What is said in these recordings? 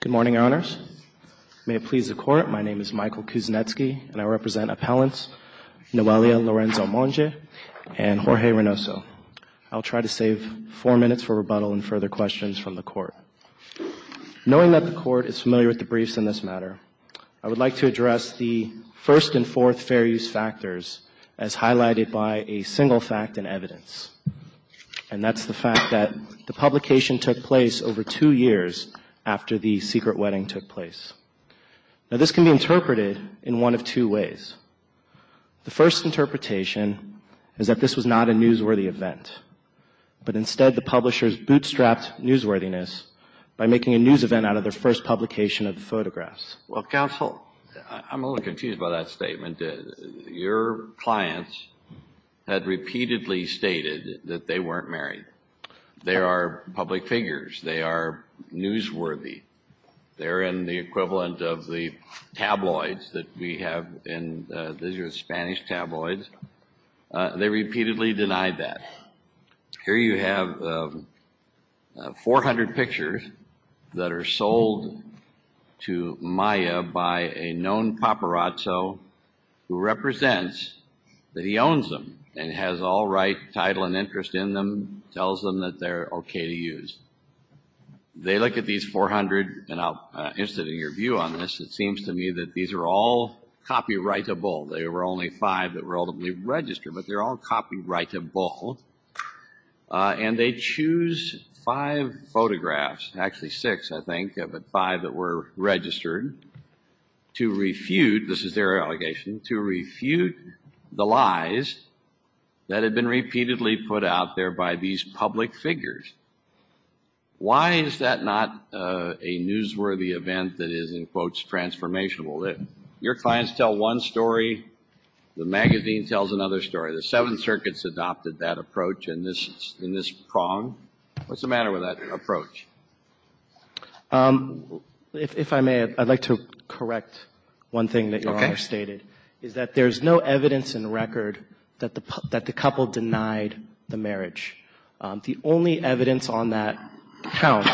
Good morning, Your Honors. May it please the Court, my name is Michael Kuznetsky, and I represent appellants Noelia Lorenzo Monge and Jorge Reynoso. I'll try to save four minutes for rebuttal and further questions from the Court. Knowing that the Court is familiar with the briefs in this matter, I would like to address the first and fourth fair use factors as highlighted by a single fact and evidence, and that's the fact that the publication took place over two years after the secret wedding took place. Now, this can be interpreted in one of two ways. The first interpretation is that this was not a newsworthy event, but instead the publishers bootstrapped newsworthiness by making a news event out of their first publication of the photographs. Well, Counsel, I'm a little confused by that statement. Your clients had repeatedly stated that they weren't married. They are public figures. They are newsworthy. They're in the equivalent of the tabloids that we have in, these are Spanish tabloids. They repeatedly denied that. Here you have 400 pictures that are sold to Maya by a known paparazzo who has an interest in them, tells them that they're okay to use. They look at these 400, and I'm interested in your view on this. It seems to me that these are all copyrightable. They were only five that were ultimately registered, but they're all copyrightable. And they choose five photographs, actually six, I think, but five that were registered, to refute, this out there by these public figures. Why is that not a newsworthy event that is, in quotes, transformational? Your clients tell one story. The magazine tells another story. The Seventh Circuit's adopted that approach in this prong. What's the matter with that approach? If I may, I'd like to correct one thing that Your Honor stated, is that there's no evidence in record that the couple denied the marriage. The only evidence on that account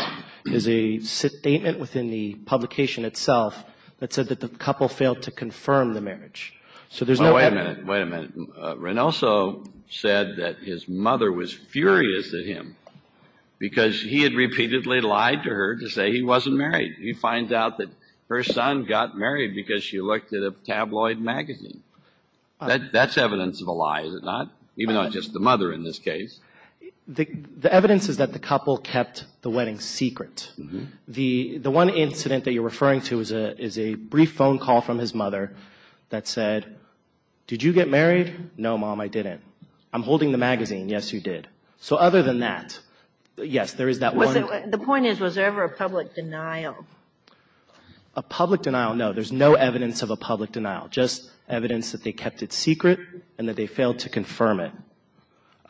is a statement within the publication itself that said that the couple failed to confirm the marriage. So there's no evidence. Wait a minute. Wait a minute. Reynoso said that his mother was furious at him because he had repeatedly lied to her to say he wasn't married. You find out that her son got married because she looked at a tabloid magazine. That's evidence of a lie, is it not? Even not just the mother in this case. The evidence is that the couple kept the wedding secret. The one incident that you're referring to is a brief phone call from his mother that said, did you get married? No, Mom, I didn't. I'm holding the magazine. Yes, you did. So other than that, yes, there is that one. The point is, was there ever a public denial? A public denial, no. There's no evidence of a public denial. Just evidence that they kept it secret and that they failed to confirm it.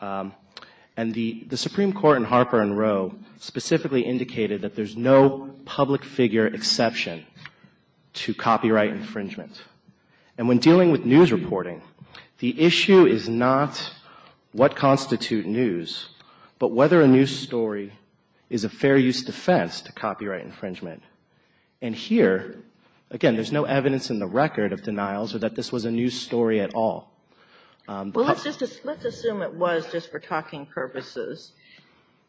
And the Supreme Court in Harper and Roe specifically indicated that there's no public figure exception to copyright infringement. And when dealing with news reporting, the issue is not what constitute news, but whether a news story is a fair use defense to copyright infringement. And here, again, there's no evidence in the record of denials or that this was a news story at all. Well, let's just assume it was just for talking purposes.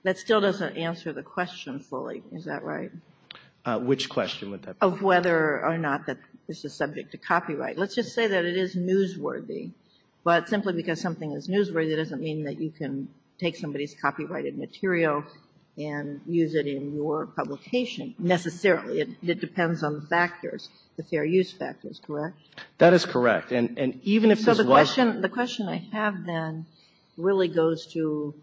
That still doesn't answer the question fully, is that right? Which question would that be? Of whether or not that this is subject to copyright. Let's just say that it is newsworthy. But simply because something is newsworthy doesn't mean that you can take somebody's material and use it in your publication necessarily. It depends on the factors, the fair use factors, correct? That is correct. And even if this was So the question I have then really goes to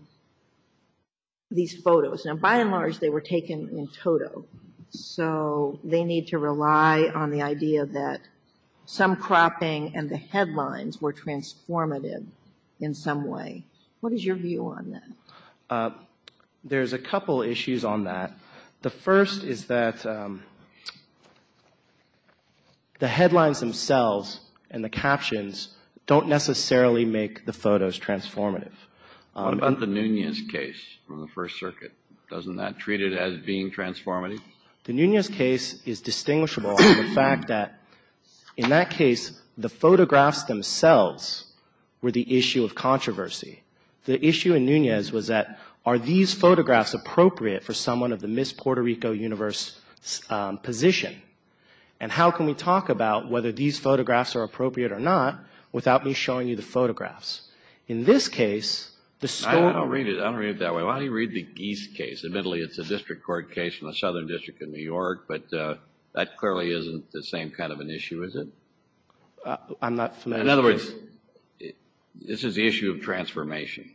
these photos. Now, by and large, they were taken in toto. So they need to rely on the idea that some cropping and the headlines were transformative in some way. What is your view on that? Well, there's a couple issues on that. The first is that the headlines themselves and the captions don't necessarily make the photos transformative. What about the Nunez case from the First Circuit? Doesn't that treat it as being transformative? The Nunez case is distinguishable in the fact that in that case, the photographs themselves were the issue of controversy. The issue in Nunez was that, are these photographs appropriate for someone of the Miss Puerto Rico Universe position? And how can we talk about whether these photographs are appropriate or not without me showing you the photographs? In this case, the story I don't read it that way. Why don't you read the Geese case? Admittedly, it's a District Court case in the Southern District of New York, but that clearly isn't the same kind I'm not familiar with that. This is the issue of transformation.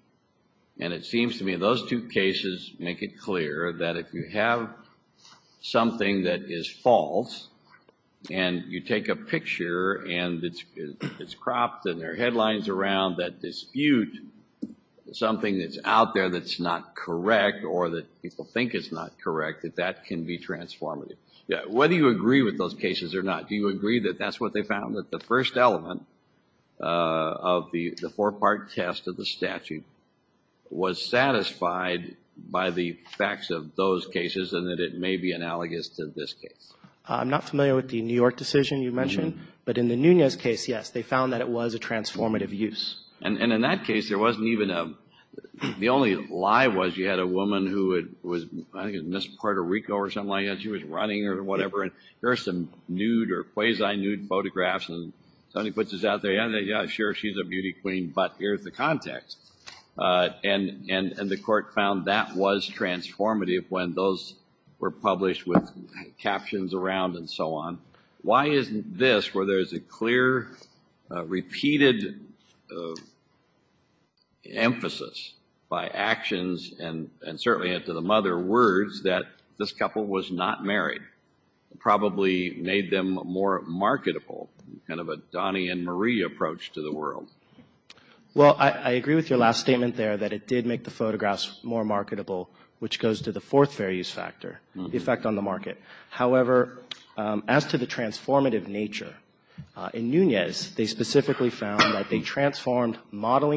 And it seems to me those two cases make it clear that if you have something that is false and you take a picture and it's cropped and there are headlines around that dispute something that's out there that's not correct or that people think is not correct, that that can be transformative. Whether you agree with those cases or not, do you agree that that's what they found? That the first element of the four-part test of the statute was satisfied by the facts of those cases and that it may be analogous to this case? I'm not familiar with the New York decision you mentioned, but in the Nunez case, yes, they found that it was a transformative use. And in that case, there wasn't even a, the only lie was you had a woman who was, I think it was Miss Puerto Rico or something like that, she was running or whatever and here is the context. And the court found that was transformative when those were published with captions around and so on. Why isn't this, where there's a clear repeated emphasis by actions and certainly to the mother words that this couple was not married, probably made them more marketable, kind of a Donnie and Marie approach to the world. Well I agree with your last statement there that it did make the photographs more marketable, which goes to the fourth fair use factor, the effect on the market. However, as to the transformative nature in Nunez, they specifically found that they transformed about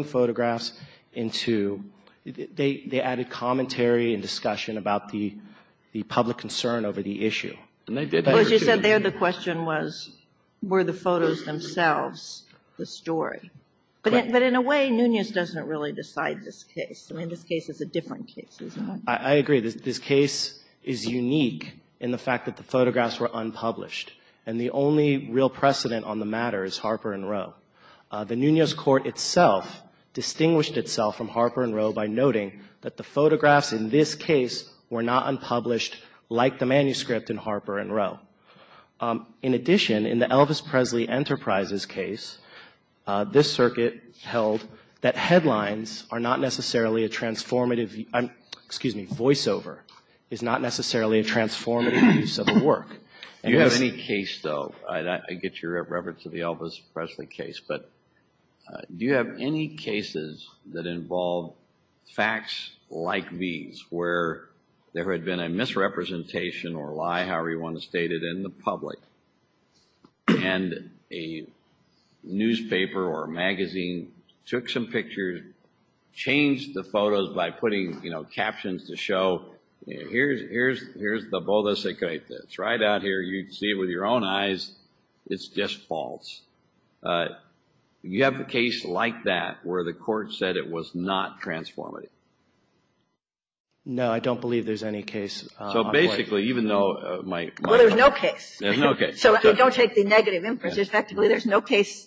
the public concern over the issue. Well as you said there, the question was, were the photos themselves the story? But in a way, Nunez doesn't really decide this case. I mean, this case is a different case. I agree. This case is unique in the fact that the photographs were unpublished. And the only real precedent on the matter is Harper and Rowe. The Nunez court itself distinguished itself from Harper and Rowe by noting that the photographs in this case were not unpublished like the manuscript in Harper and Rowe. In addition, in the Elvis Presley Enterprises case, this circuit held that headlines are not necessarily a transformative, excuse me, voiceover is not necessarily a transformative use of the work. Do you have any case though, I get your reference to the Elvis Presley case, but do you have any cases that involve facts like these, where there had been a misrepresentation or lie, however you want to state it, in the public and a newspaper or magazine took some pictures, changed the photos by putting, you know, captions to show, here's the bodasicritas. Right out here you can see with your own eyes, it's just false. You have a case like that where the court said it was not transformative? No, I don't believe there's any case. So basically, even though my... Well, there's no case. There's no case. So I don't take the negative inference. Respectively, there's no case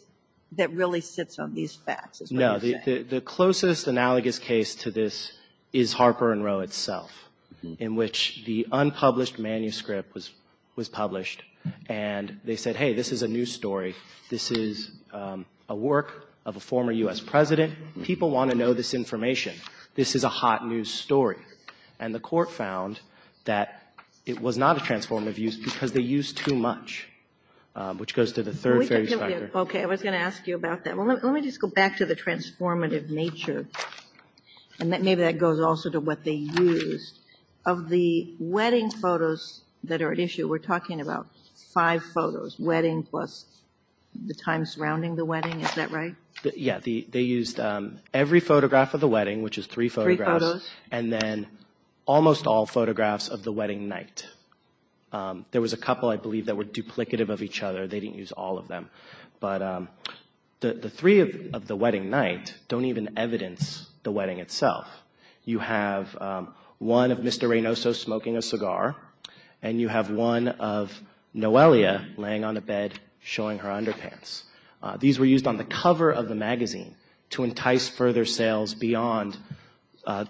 that really sits on these facts, is what you're saying. No, the closest analogous case to this is Harper and Rowe itself, in which the unpublished manuscript was published, and they said, hey, this is a new story. This is a work of a former U.S. president. People want to know this information. This is a hot news story. And the court found that it was not a transformative use because they used too much, which goes to the third fair use factor. Okay. I was going to ask you about that. Well, let me just go back to the transformative nature, and maybe that goes also to what they used. Of the wedding photos that are at issue, we're talking about five photos, wedding plus the time surrounding the wedding. Is that right? Yeah. They used every photograph of the wedding, which is three photographs. Three photos. And then almost all photographs of the wedding night. There was a couple, I believe, that were duplicative of each other. They didn't use all of them. But the three of the wedding night don't even evidence the wedding itself. You have one of Mr. Reynoso smoking a cigar, and you have one of Noelia laying on a bed showing her underpants. These were used on the cover of the magazine to entice further sales beyond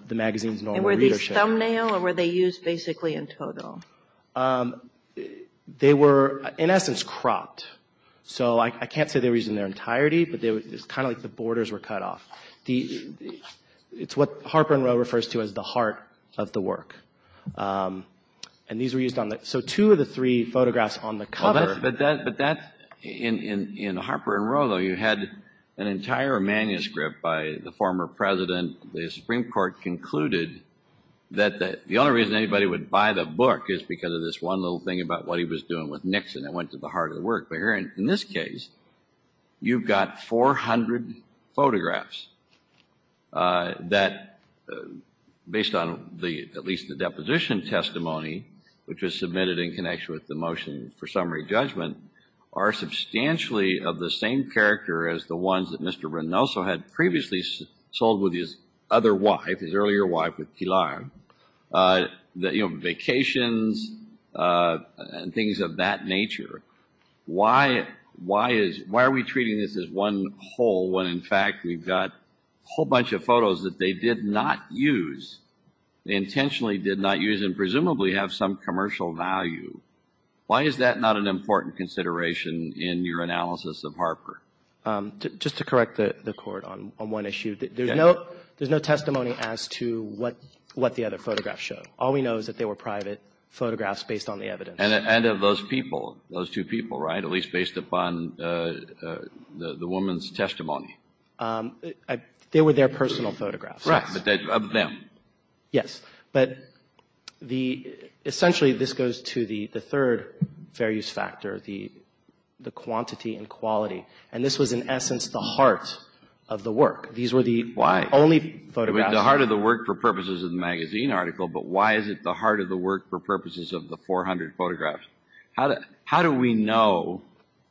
the magazine's normal readership. And were these thumbnail, or were they used basically in total? They were, in essence, cropped. So I can't say they were used in their entirety, but it's kind of like the borders were cut off. It's what Harper and Row refers to as the heart of the work. And these were used on the, so two of the three photographs on the cover. But that's, in Harper and Row, though, you had an entire manuscript by the former president. The Supreme Court concluded that the only reason anybody would buy the book is because of this one little thing about what he was doing with Nixon that went to the heart of the work. And in this case, you've got 400 photographs that, based on at least the deposition testimony which was submitted in connection with the motion for summary judgment, are substantially of the same character as the ones that Mr. Reynoso had previously sold with his other wife, his earlier wife with Pilar. You know, vacations and things of that nature. Why are we treating this as one whole when, in fact, we've got a whole bunch of photos that they did not use, they intentionally did not use and presumably have some commercial value? Why is that not an important consideration in your analysis of Harper? Just to correct the Court on one issue. There's no testimony as to what the other photographs show. All we know is that they were private photographs based on the evidence. And of those people, those two people, right? At least based upon the woman's testimony. They were their personal photographs. Right. Of them. Yes. But essentially this goes to the third fair use factor, the quantity and quality. And this was in essence the heart of the work. Why? These were the only photographs. The heart of the work for purposes of the magazine article, but why is it the heart of the work for purposes of the 400 photographs? How do we know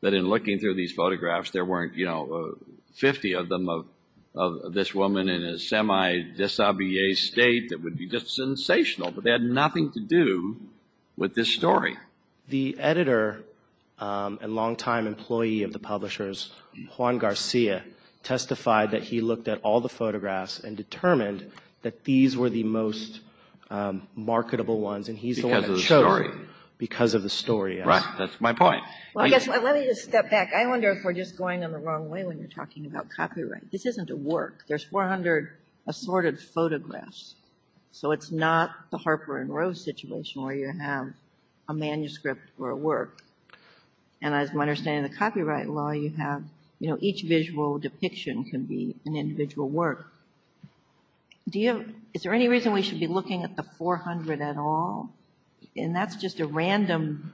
that in looking through these photographs there weren't, you know, 50 of them of this woman in a semi-disobedient state that would be just sensational? But they had nothing to do with this story. The editor and longtime employee of the publishers, Juan Garcia, testified that he looked at all the photographs and determined that these were the most marketable ones and he's the one that chose them. Because of the story. Because of the story, yes. Right. That's my point. Let me just step back. I wonder if we're just going in the wrong way when we're talking about copyright. This isn't a work. There's 400 assorted photographs. So it's not the Harper and Rose situation where you have a manuscript or a work. And as my understanding of the copyright law, you have, you know, each visual depiction can be an individual work. Do you have, is there any reason we should be looking at the 400 at all? And that's just a random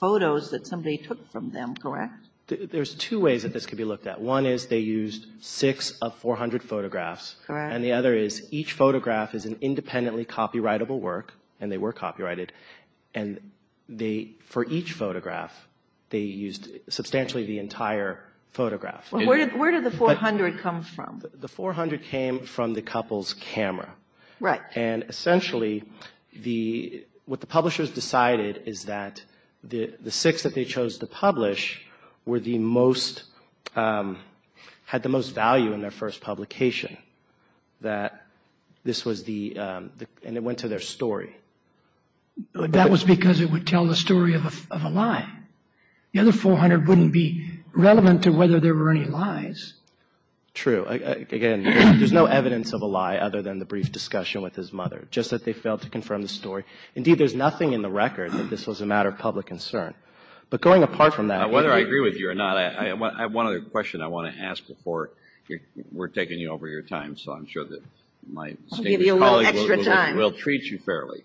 photos that somebody took from them, correct? There's two ways that this could be looked at. One is they used six of 400 photographs. Correct. And the other is each photograph is an independently copyrightable work and they were copyrighted. And they, for each photograph, they used substantially the entire photograph. Where did the 400 come from? The 400 came from the couple's camera. Right. And essentially the, what the publishers decided is that the six that they chose to publish were the most, had the most value in their first publication. That this was the, and it went to their story. That was because it would tell the story of a lie. The other 400 wouldn't be relevant to whether there were any lies. True. Again, there's no evidence of a lie other than the brief discussion with his mother. Just that they failed to confirm the story. Indeed, there's nothing in the record that this was a matter of public concern. But going apart from that. Whether I agree with you or not, I have one other question I want to ask before we're taking you over your time. So I'm sure that my colleagues will treat you fairly.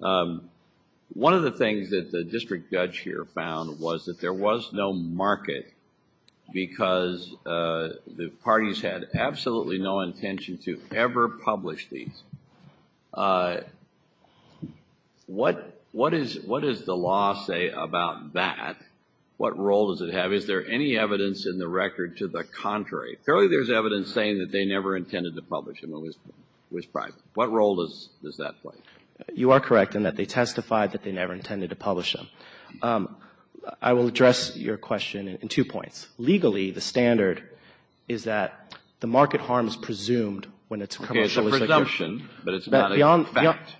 One of the things that the district judge here found was that there was no market because the parties had absolutely no intention to ever publish these. What does the law say about that? What role does it have? Is there any evidence in the record to the contrary? Clearly there's evidence saying that they never intended to publish them. It was private. What role does that play? You are correct in that they testified that they never intended to publish them. I will address your question in two points. Legally, the standard is that the market harm is presumed when it's commercially secure. Okay, it's a presumption, but it's not a fact.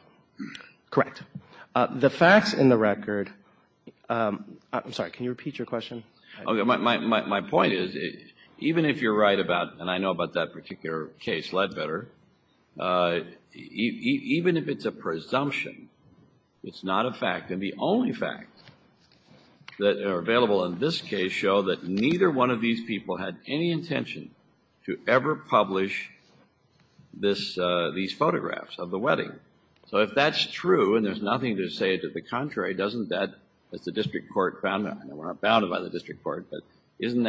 Correct. The facts in the record, I'm sorry, can you repeat your question? My point is, even if you're right about, and I know about that particular case, Ledbetter, even if it's a presumption, it's not a fact, and the only facts that are available in this case show that neither one of these people had any intention to ever publish these photographs of the wedding. So if that's true and there's nothing to say to the contrary, doesn't that, as the district court found out, and we're not bounded by the district court, but doesn't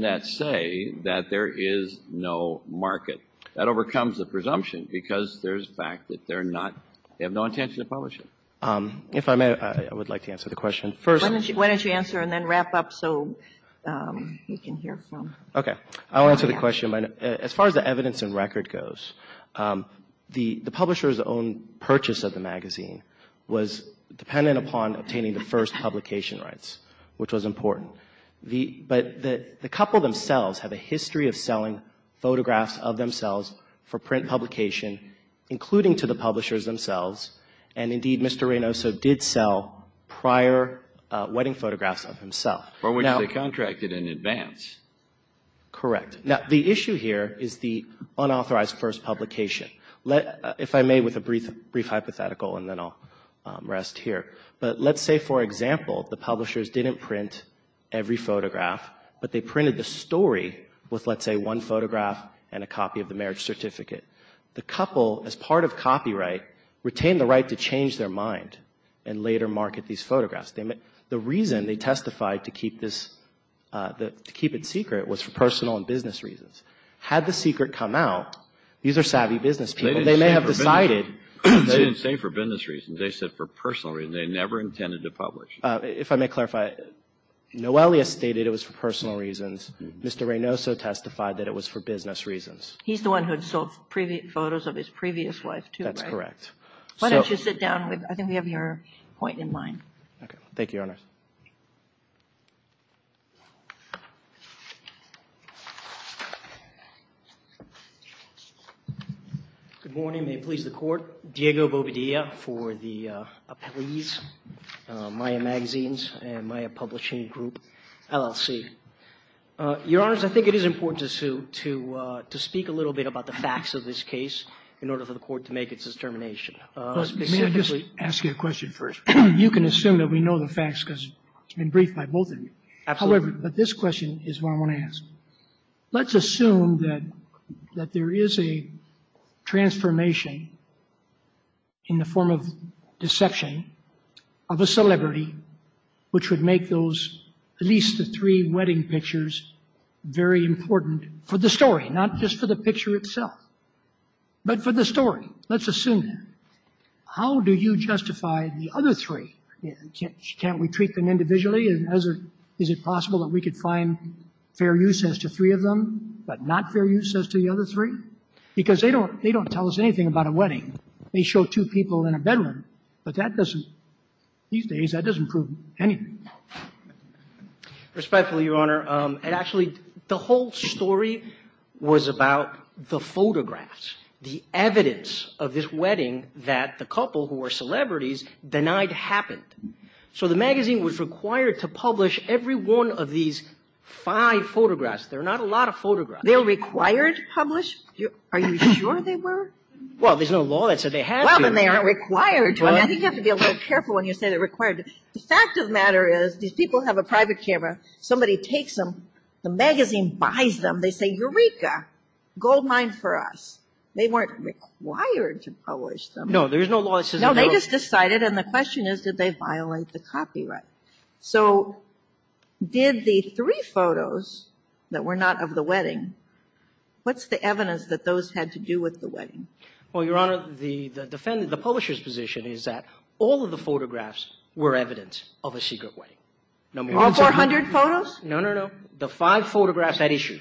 that say that there is no market? That overcomes the presumption because there's a fact that they're not, they have no intention to publish it. If I may, I would like to answer the question. First. Why don't you answer and then wrap up so we can hear from you. Okay. I'll answer the question. As far as the evidence and record goes, the publisher's own purchase of the magazine was dependent upon obtaining the first publication rights, which was important. But the couple themselves have a history of selling photographs of themselves for print publication, including to the publishers themselves, and indeed Mr. Reynoso did sell prior wedding photographs of himself. For which they contracted in advance. Correct. Now, the issue here is the unauthorized first publication. If I may, with a brief hypothetical, and then I'll rest here. But let's say, for example, the publishers didn't print every photograph, but they printed the story with, let's say, one photograph and a copy of the marriage certificate. The couple, as part of copyright, retained the right to change their mind and later market these photographs. The reason they testified to keep this, to keep it secret, was for personal and business reasons. Had the secret come out, these are savvy business people, they may have decided. They didn't say for business reasons. They said for personal reasons. They never intended to publish. If I may clarify, Noelia stated it was for personal reasons. Mr. Reynoso testified that it was for business reasons. He's the one who had sold photos of his previous wife, too, right? That's correct. Why don't you sit down? I think we have your point in mind. Okay. Thank you, Your Honor. Good morning. May it please the Court. Diego Bobadilla for the appellees, Maya Magazines and Maya Publishing Group, LLC. Your Honors, I think it is important to speak a little bit about the facts of this case in order for the Court to make its determination. May I just ask you a question first? You can assume that we know the facts because it's been briefed by both of you. However, this question is what I want to ask. Let's assume that there is a transformation in the form of deception of a celebrity which would make at least the three wedding pictures very important for the story, not just for the picture itself, but for the story. Let's assume that. How do you justify the other three? Can't we treat them individually? Is it possible that we could find fair use as to three of them, but not fair use as to the other three? Because they don't tell us anything about a wedding. They show two people in a bedroom. But that doesn't, these days, that doesn't prove anything. Respectfully, Your Honor, it actually, the whole story was about the photographs, the evidence of this wedding that the couple who were celebrities denied happened. So the magazine was required to publish every one of these five photographs. There are not a lot of photographs. They were required to publish? Are you sure they were? Well, there's no law that said they had to. Well, then they aren't required to. I think you have to be a little careful when you say they're required to. The fact of the matter is these people have a private camera. Somebody takes them. The magazine buys them. They say, Eureka, gold mine for us. They weren't required to publish them. No, there's no law that says they have to. No, they just decided, and the question is, did they violate the copyright? So did the three photos that were not of the wedding, what's the evidence that those had to do with the wedding? Well, Your Honor, the publisher's position is that all of the photographs were evidence of a secret wedding. All 400 photos? No, no, no. The five photographs that issue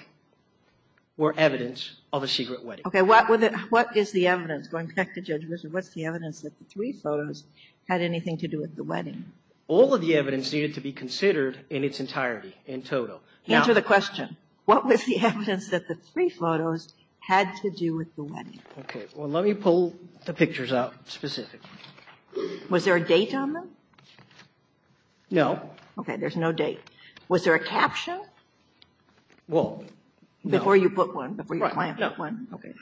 were evidence of a secret wedding. Okay. What is the evidence? Going back to Judge Richard, what's the evidence that the three photos had anything to do with the wedding? All of the evidence needed to be considered in its entirety, in total. Answer the question. What was the evidence that the three photos had to do with the wedding? Okay. Well, let me pull the pictures out specifically. Was there a date on them? No. Okay. There's no date. Was there a caption? Well, no. Before you put one, before your client put one. Right, no. Okay.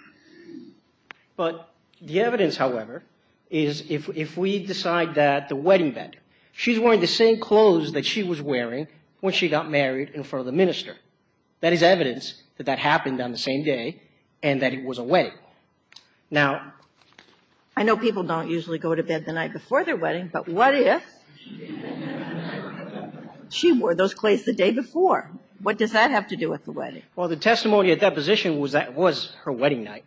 But the evidence, however, is if we decide that the wedding bed, she's wearing the same clothes that she was wearing when she got married in front of the minister. That is evidence that that happened on the same day and that it was a wedding. Now, I know people don't usually go to bed the night before their wedding, but what if she wore those clothes the day before? What does that have to do with the wedding? Well, the testimony at that position was that it was her wedding night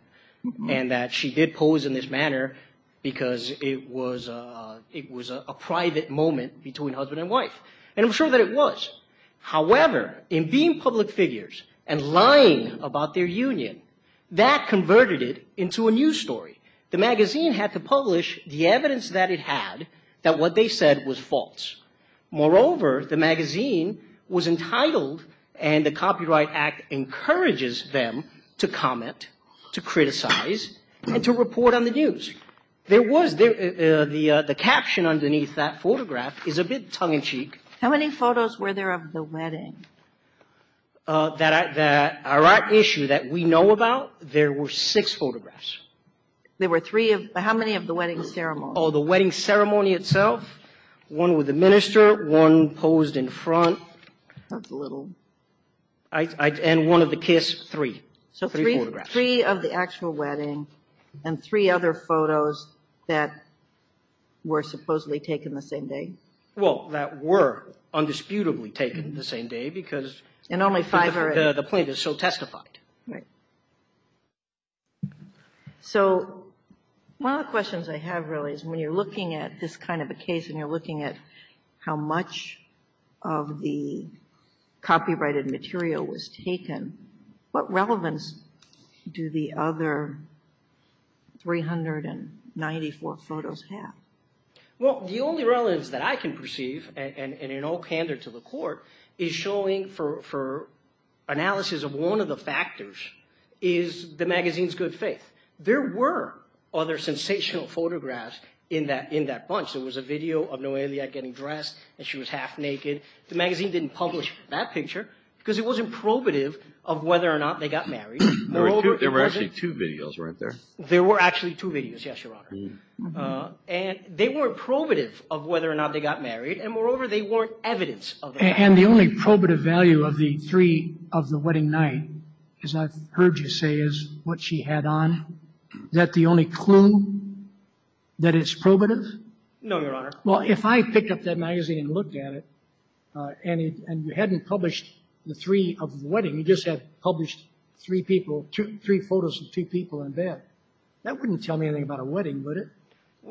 and that she did pose in this manner because it was a private moment between husband and wife. And I'm sure that it was. However, in being public figures and lying about their union, that converted it into a news story. The magazine had to publish the evidence that it had that what they said was false. Moreover, the magazine was entitled and the Copyright Act encourages them to comment, to criticize, and to report on the news. There was, the caption underneath that photograph is a bit tongue-in-cheek. How many photos were there of the wedding? That issue that we know about, there were six photographs. There were three of, how many of the wedding ceremonies? Oh, the wedding ceremony itself, one with the minister, one posed in front. That's a little. And one of the kiss, three. So three of the actual wedding and three other photos that were supposedly taken the same day? Well, that were undisputably taken the same day because the plaintiff so testified. Right. So one of the questions I have really is when you're looking at this kind of a case and you're looking at how much of the copyrighted material was taken, what relevance do the other 394 photos have? Well, the only relevance that I can perceive and in all candor to the court is showing for analysis of one of the factors is the magazine's good faith. There were other sensational photographs in that bunch. There was a video of Noelia getting dressed and she was half naked. The magazine didn't publish that picture because it wasn't probative of whether or not they got married. There were actually two videos, weren't there? There were actually two videos, yes, Your Honor. And they weren't probative of whether or not they got married. And moreover, they weren't evidence of that. And the only probative value of the three of the wedding night, as I've heard you say, is what she had on. Is that the only clue that it's probative? No, Your Honor. Well, if I picked up that magazine and looked at it and you hadn't published the three of the wedding, you just had published three people, three photos of two people in bed, that wouldn't tell me anything about a wedding, would it?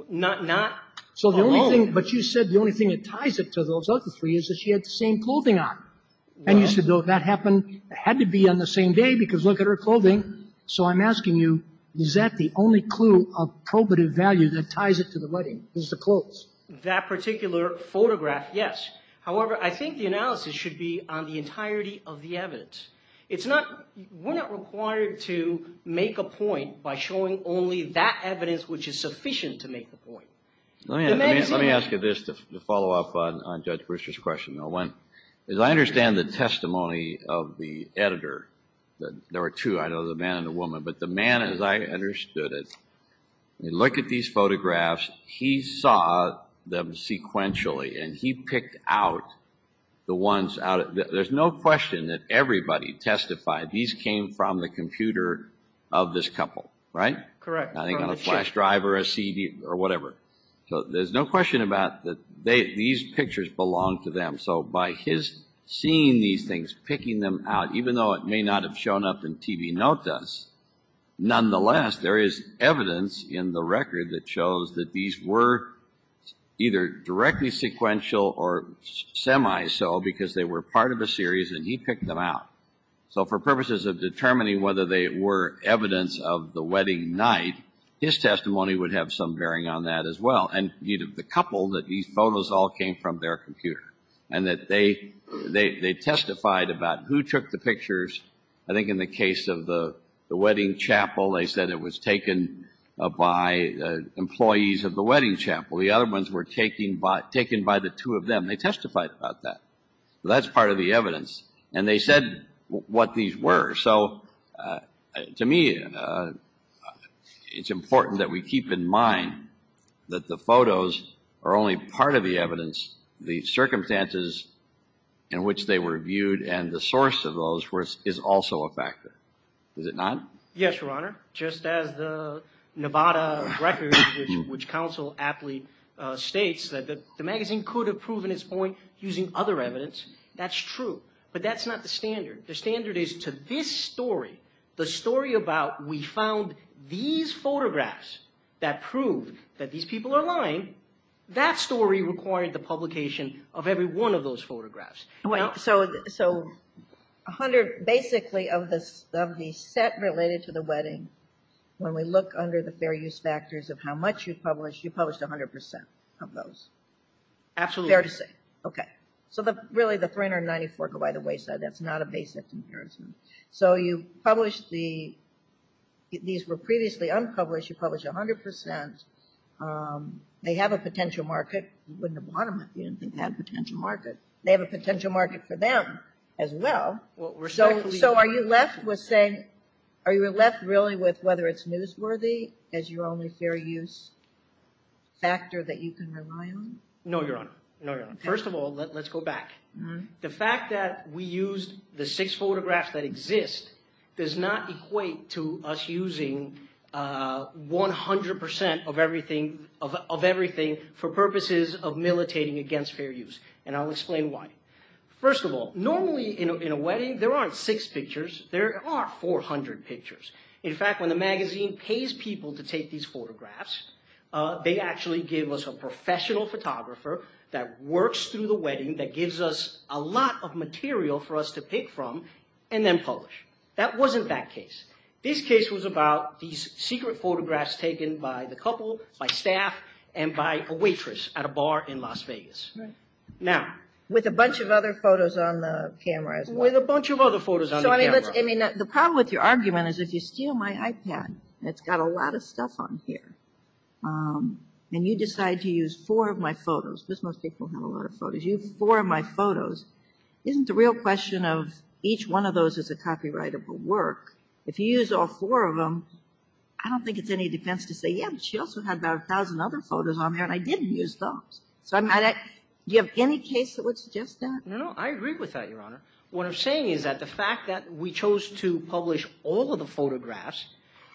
Not alone. So the only thing, but you said the only thing that ties it to those other three is that she had the same clothing on. And you said that happened, had to be on the same day because look at her clothing. So I'm asking you, is that the only clue of probative value that ties it to the wedding is the clothes? That particular photograph, yes. However, I think the analysis should be on the entirety of the evidence. We're not required to make a point by showing only that evidence which is sufficient to make a point. Let me ask you this to follow up on Judge Brewster's question. As I understand the testimony of the editor, there were two, I know, the man and the woman. But the man, as I understood it, when you look at these photographs, he saw them sequentially and he picked out the ones out. There's no question that everybody testified these came from the computer of this couple, right? Correct. I think on a flash drive or a CD or whatever. So there's no question about that these pictures belong to them. So by his seeing these things, picking them out, even though it may not have shown up in TV notice, there is evidence in the record that shows that these were either directly sequential or semi-so, because they were part of a series and he picked them out. So for purposes of determining whether they were evidence of the wedding night, his testimony would have some bearing on that as well. And the couple, that these photos all came from their computer. And that they testified about who took the pictures, I think in the case of the wedding chapel, they said it was taken by employees of the wedding chapel. The other ones were taken by the two of them. They testified about that. That's part of the evidence. And they said what these were. So to me, it's important that we keep in mind that the photos are only part of the evidence. The circumstances in which they were viewed and the source of those is also a factor. Is it not? Yes, Your Honor. Just as the Nevada records, which counsel aptly states that the magazine could have proven its point using other evidence, that's true. But that's not the standard. The standard is to this story, the story about we found these photographs that proved that these people are lying, that story required the publication of every one of those photographs. So basically of the set related to the wedding, when we look under the fair use factors of how much you published, you published 100% of those. Absolutely. Fair to say. Okay. So really the 394 go by the wayside. That's not a basic comparison. So you published the, these were previously unpublished. You published 100%. They have a potential market. You wouldn't have bought them if you didn't think they had a potential market. They have a potential market for them as well. So are you left with saying, are you left really with whether it's newsworthy as your only fair use factor that you can rely on? No, Your Honor. First of all, let's go back. The fact that we used the six photographs that exist does not equate to us using 100% of everything for purposes of militating against fair use. And I'll explain why. First of all, normally in a wedding there aren't six pictures. There are 400 pictures. In fact, when the magazine pays people to take these photographs, they actually give us a professional photographer that works through the wedding, that gives us a lot of material for us to pick from, and then publish. That wasn't that case. This case was about these secret photographs taken by the couple, by staff, and by a waitress at a bar in Las Vegas. Now. With a bunch of other photos on the camera as well. With a bunch of other photos on the camera. So, I mean, let's, I mean, the problem with your argument is if you steal my iPad, and it's got a lot of stuff on here, and you decide to use four of my photos, because most people have a lot of photos, you use four of my photos, isn't the real question of each one of those is a copyrightable work? If you use all four of them, I don't think it's any defense to say, yeah, but she also had about a thousand other photos on there, and I didn't use those. So I'm not, do you have any case that would suggest that? No, no. I agree with that, Your Honor. What I'm saying is that the fact that we chose to publish all of the photographs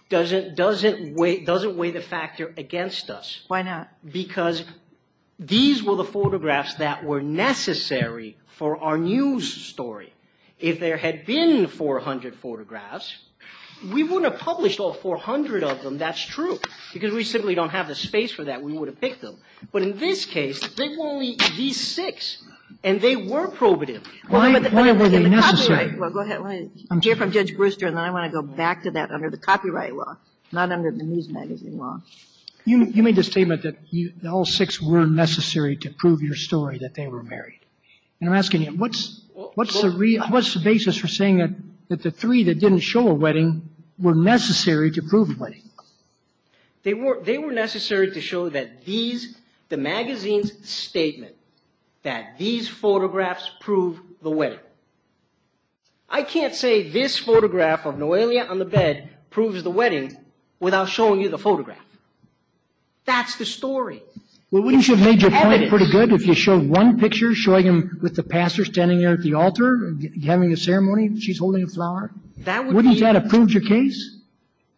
doesn't weigh the factor against us. Why not? Because these were the photographs that were necessary for our news story. If there had been 400 photographs, we wouldn't have published all 400 of them. That's true, because we simply don't have the space for that. We would have picked them. But in this case, they were only these six, and they were probative. Why were they necessary? Well, go ahead. I'm here from Judge Brewster, and I want to go back to that under the copyright law, not under the news magazine law. You made the statement that all six were necessary to prove your story, that they were married. And I'm asking you, what's the basis for saying that the three that didn't show a wedding were necessary to prove a wedding? They were necessary to show that these, the magazine's statement, that these photographs prove the wedding. I can't say this photograph of Noelia on the bed proves the wedding without showing you the photograph. That's the story. Well, wouldn't you have made your point pretty good if you showed one picture showing him with the pastor standing there at the altar having a ceremony? She's holding a flower. Wouldn't that have proved your case?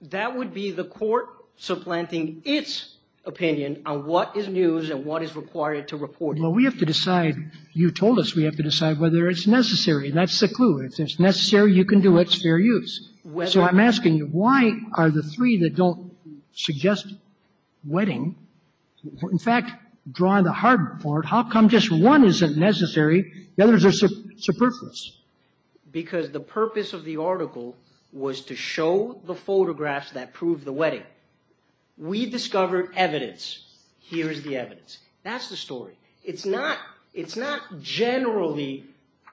That would be the court supplanting its opinion on what is news and what is required to report it. Well, we have to decide. You told us we have to decide whether it's necessary. That's the clue. If it's necessary, you can do it. It's fair use. So I'm asking you, why are the three that don't suggest wedding, in fact, drawing the hard board, how come just one isn't necessary, the others are superfluous? Because the purpose of the article was to show the photographs that prove the wedding. We discovered evidence. Here is the evidence. That's the story. It's not generally,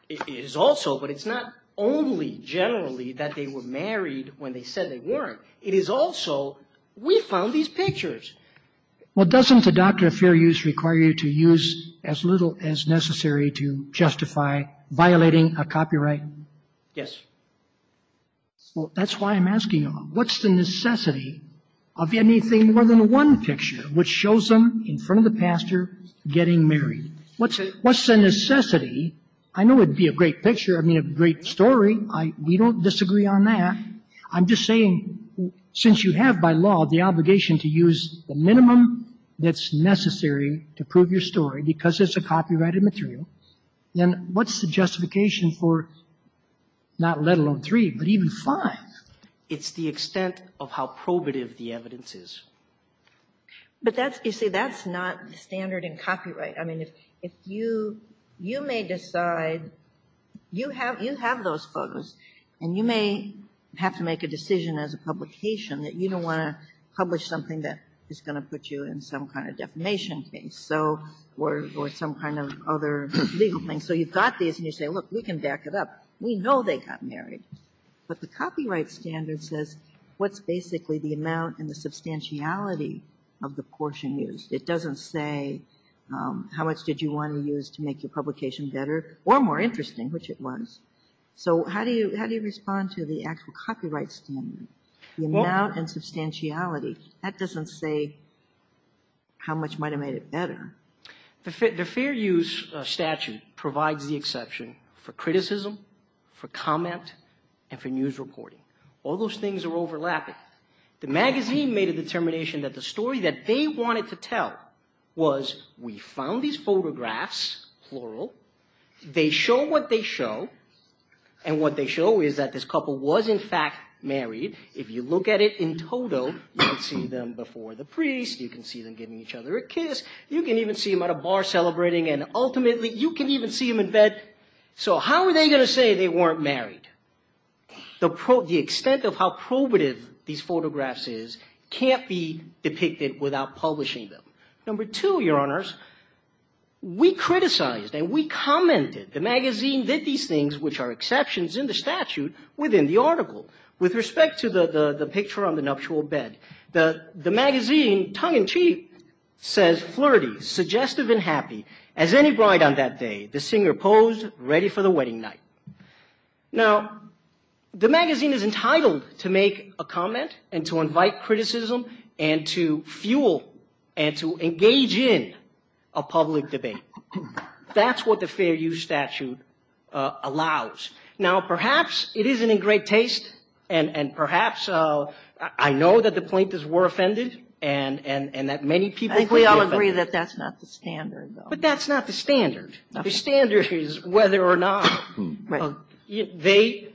it is also, but it's not only generally that they were married when they said they weren't. It is also we found these pictures. Well, doesn't the doctrine of fair use require you to use as little as necessary to justify violating a copyright? Yes. Well, that's why I'm asking you, what's the necessity of anything more than one picture which shows them in front of the pastor getting married? What's the necessity? I know it would be a great picture, I mean, a great story. We don't disagree on that. I'm just saying since you have by law the obligation to use the minimum that's necessary to prove your story because it's a copyrighted material, then what's the justification for not let alone three, but even five? It's the extent of how probative the evidence is. But that's, you see, that's not standard in copyright. I mean, if you, you may decide, you have, you have those photos, and you may have to make a decision as a publication that you don't want to publish something that is going to put you in some kind of defamation case or some kind of other legal thing. So you've got these, and you say, look, we can back it up. We know they got married. But the copyright standard says what's basically the amount and the substantiality of the portion used. It doesn't say how much did you want to use to make your publication better or more interesting, which it was. So how do you respond to the actual copyright standard? The amount and substantiality, that doesn't say how much might have made it better. The Fair Use statute provides the exception for criticism, for comment, and for news reporting. All those things are overlapping. The magazine made a determination that the story that they wanted to tell was we found these photographs, plural. They show what they show, and what they show is that this couple was, in fact, married. If you look at it in total, you can see them before the priest. You can see them giving each other a kiss. You can even see them at a bar celebrating, and ultimately, you can even see them in bed. So how are they going to say they weren't married? The extent of how probative these photographs is can't be depicted without publishing them. Number two, Your Honors, we criticized and we commented. The magazine did these things, which are exceptions in the statute within the article. With respect to the picture on the nuptial bed, the magazine, tongue-in-cheek, says, Flirty, suggestive, and happy, as any bride on that day, the singer posed, ready for the wedding night. Now, the magazine is entitled to make a comment, and to invite criticism, and to fuel, and to engage in a public debate. That's what the Fair Use statute allows. Now, perhaps it isn't in great taste, and perhaps I know that the plaintiffs were offended, and that many people could be offended. I think we all agree that that's not the standard, though. But that's not the standard. The standard is whether or not they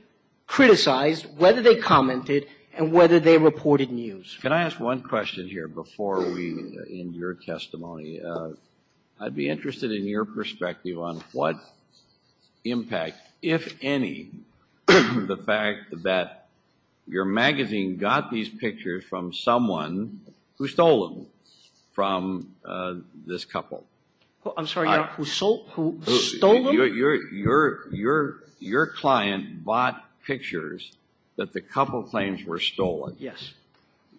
criticized, whether they commented, and whether they reported news. Can I ask one question here before we end your testimony? I'd be interested in your perspective on what impact, if any, the fact that your magazine got these pictures from someone who stole them from this couple? I'm sorry, who stole them? Your client bought pictures that the couple claims were stolen. Yes.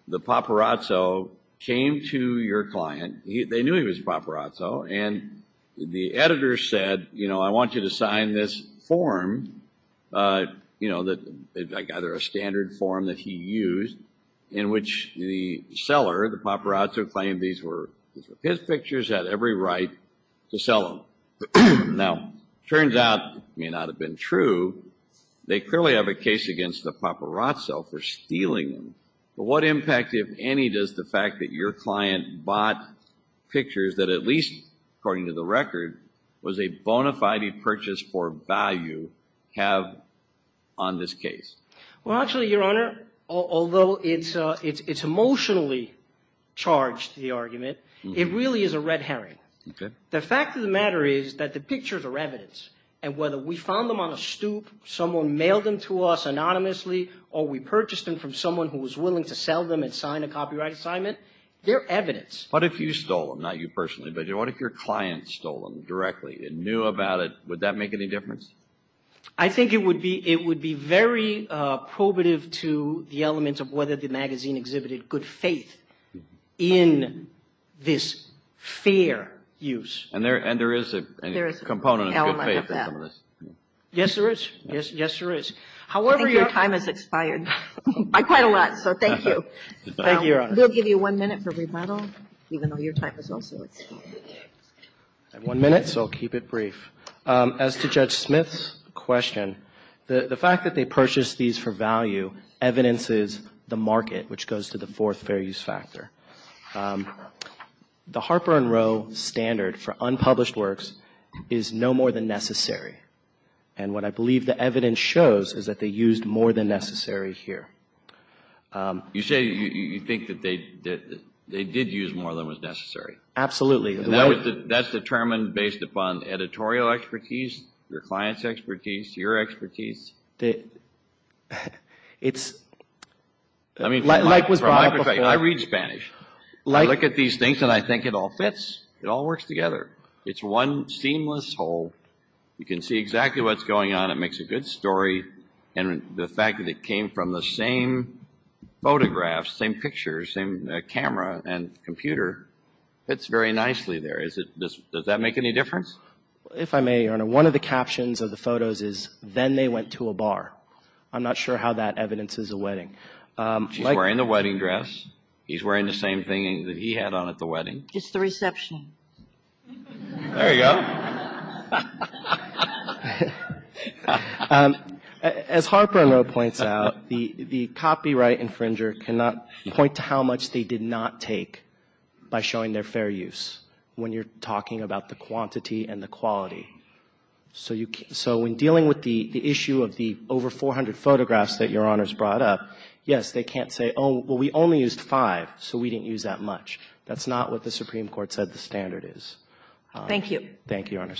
The paparazzo came to your client. They knew he was a paparazzo. And the editor said, you know, I want you to sign this form, either a standard form that he used, in which the seller, the paparazzo, claimed these were his pictures, had every right to sell them. Now, it turns out, it may not have been true, they clearly have a case against the paparazzo for stealing them. But what impact, if any, does the fact that your client bought pictures that at least, according to the record, was a bona fide purchase for value have on this case? Well, actually, Your Honor, although it's emotionally charged, the argument, it really is a red herring. The fact of the matter is that the pictures are evidence, and whether we found them on a stoop, someone mailed them to us anonymously, or we purchased them from someone who was willing to sell them and sign a copyright assignment, they're evidence. What if you stole them, not you personally, but what if your client stole them directly and knew about it, would that make any difference? I think it would be very probative to the elements of whether the magazine exhibited good faith in this fair use. And there is a component of good faith in some of this. Yes, there is. Yes, there is. However, your time has expired by quite a lot, so thank you. Thank you, Your Honor. We'll give you one minute for rebuttal, even though your time has also expired. I have one minute, so I'll keep it brief. As to Judge Smith's question, the fact that they purchased these for value evidences the market, which goes to the fourth fair use factor. The Harper and Rowe standard for unpublished works is no more than necessary, and what I believe the evidence shows is that they used more than necessary here. You say you think that they did use more than was necessary? Absolutely. And that's determined based upon editorial expertise, your client's expertise, your expertise? I read Spanish. I look at these things and I think it all fits. It all works together. It's one seamless whole. You can see exactly what's going on. It makes a good story. And the fact that it came from the same photographs, same pictures, same camera and computer fits very nicely there. Does that make any difference? If I may, Your Honor, one of the captions of the photos is, then they went to a bar. I'm not sure how that evidences a wedding. She's wearing the wedding dress. He's wearing the same thing that he had on at the wedding. As Harper and Rowe points out, the copyright infringer cannot point to how much they did not take by showing their fair use when you're talking about the quantity and the quality. So when dealing with the issue of the over 400 photographs that Your Honor's brought up, yes, they can't say, oh, well, we only used five, so we didn't use that much. That's not what the Supreme Court said the standard is. Thank you. Thank you, Your Honor.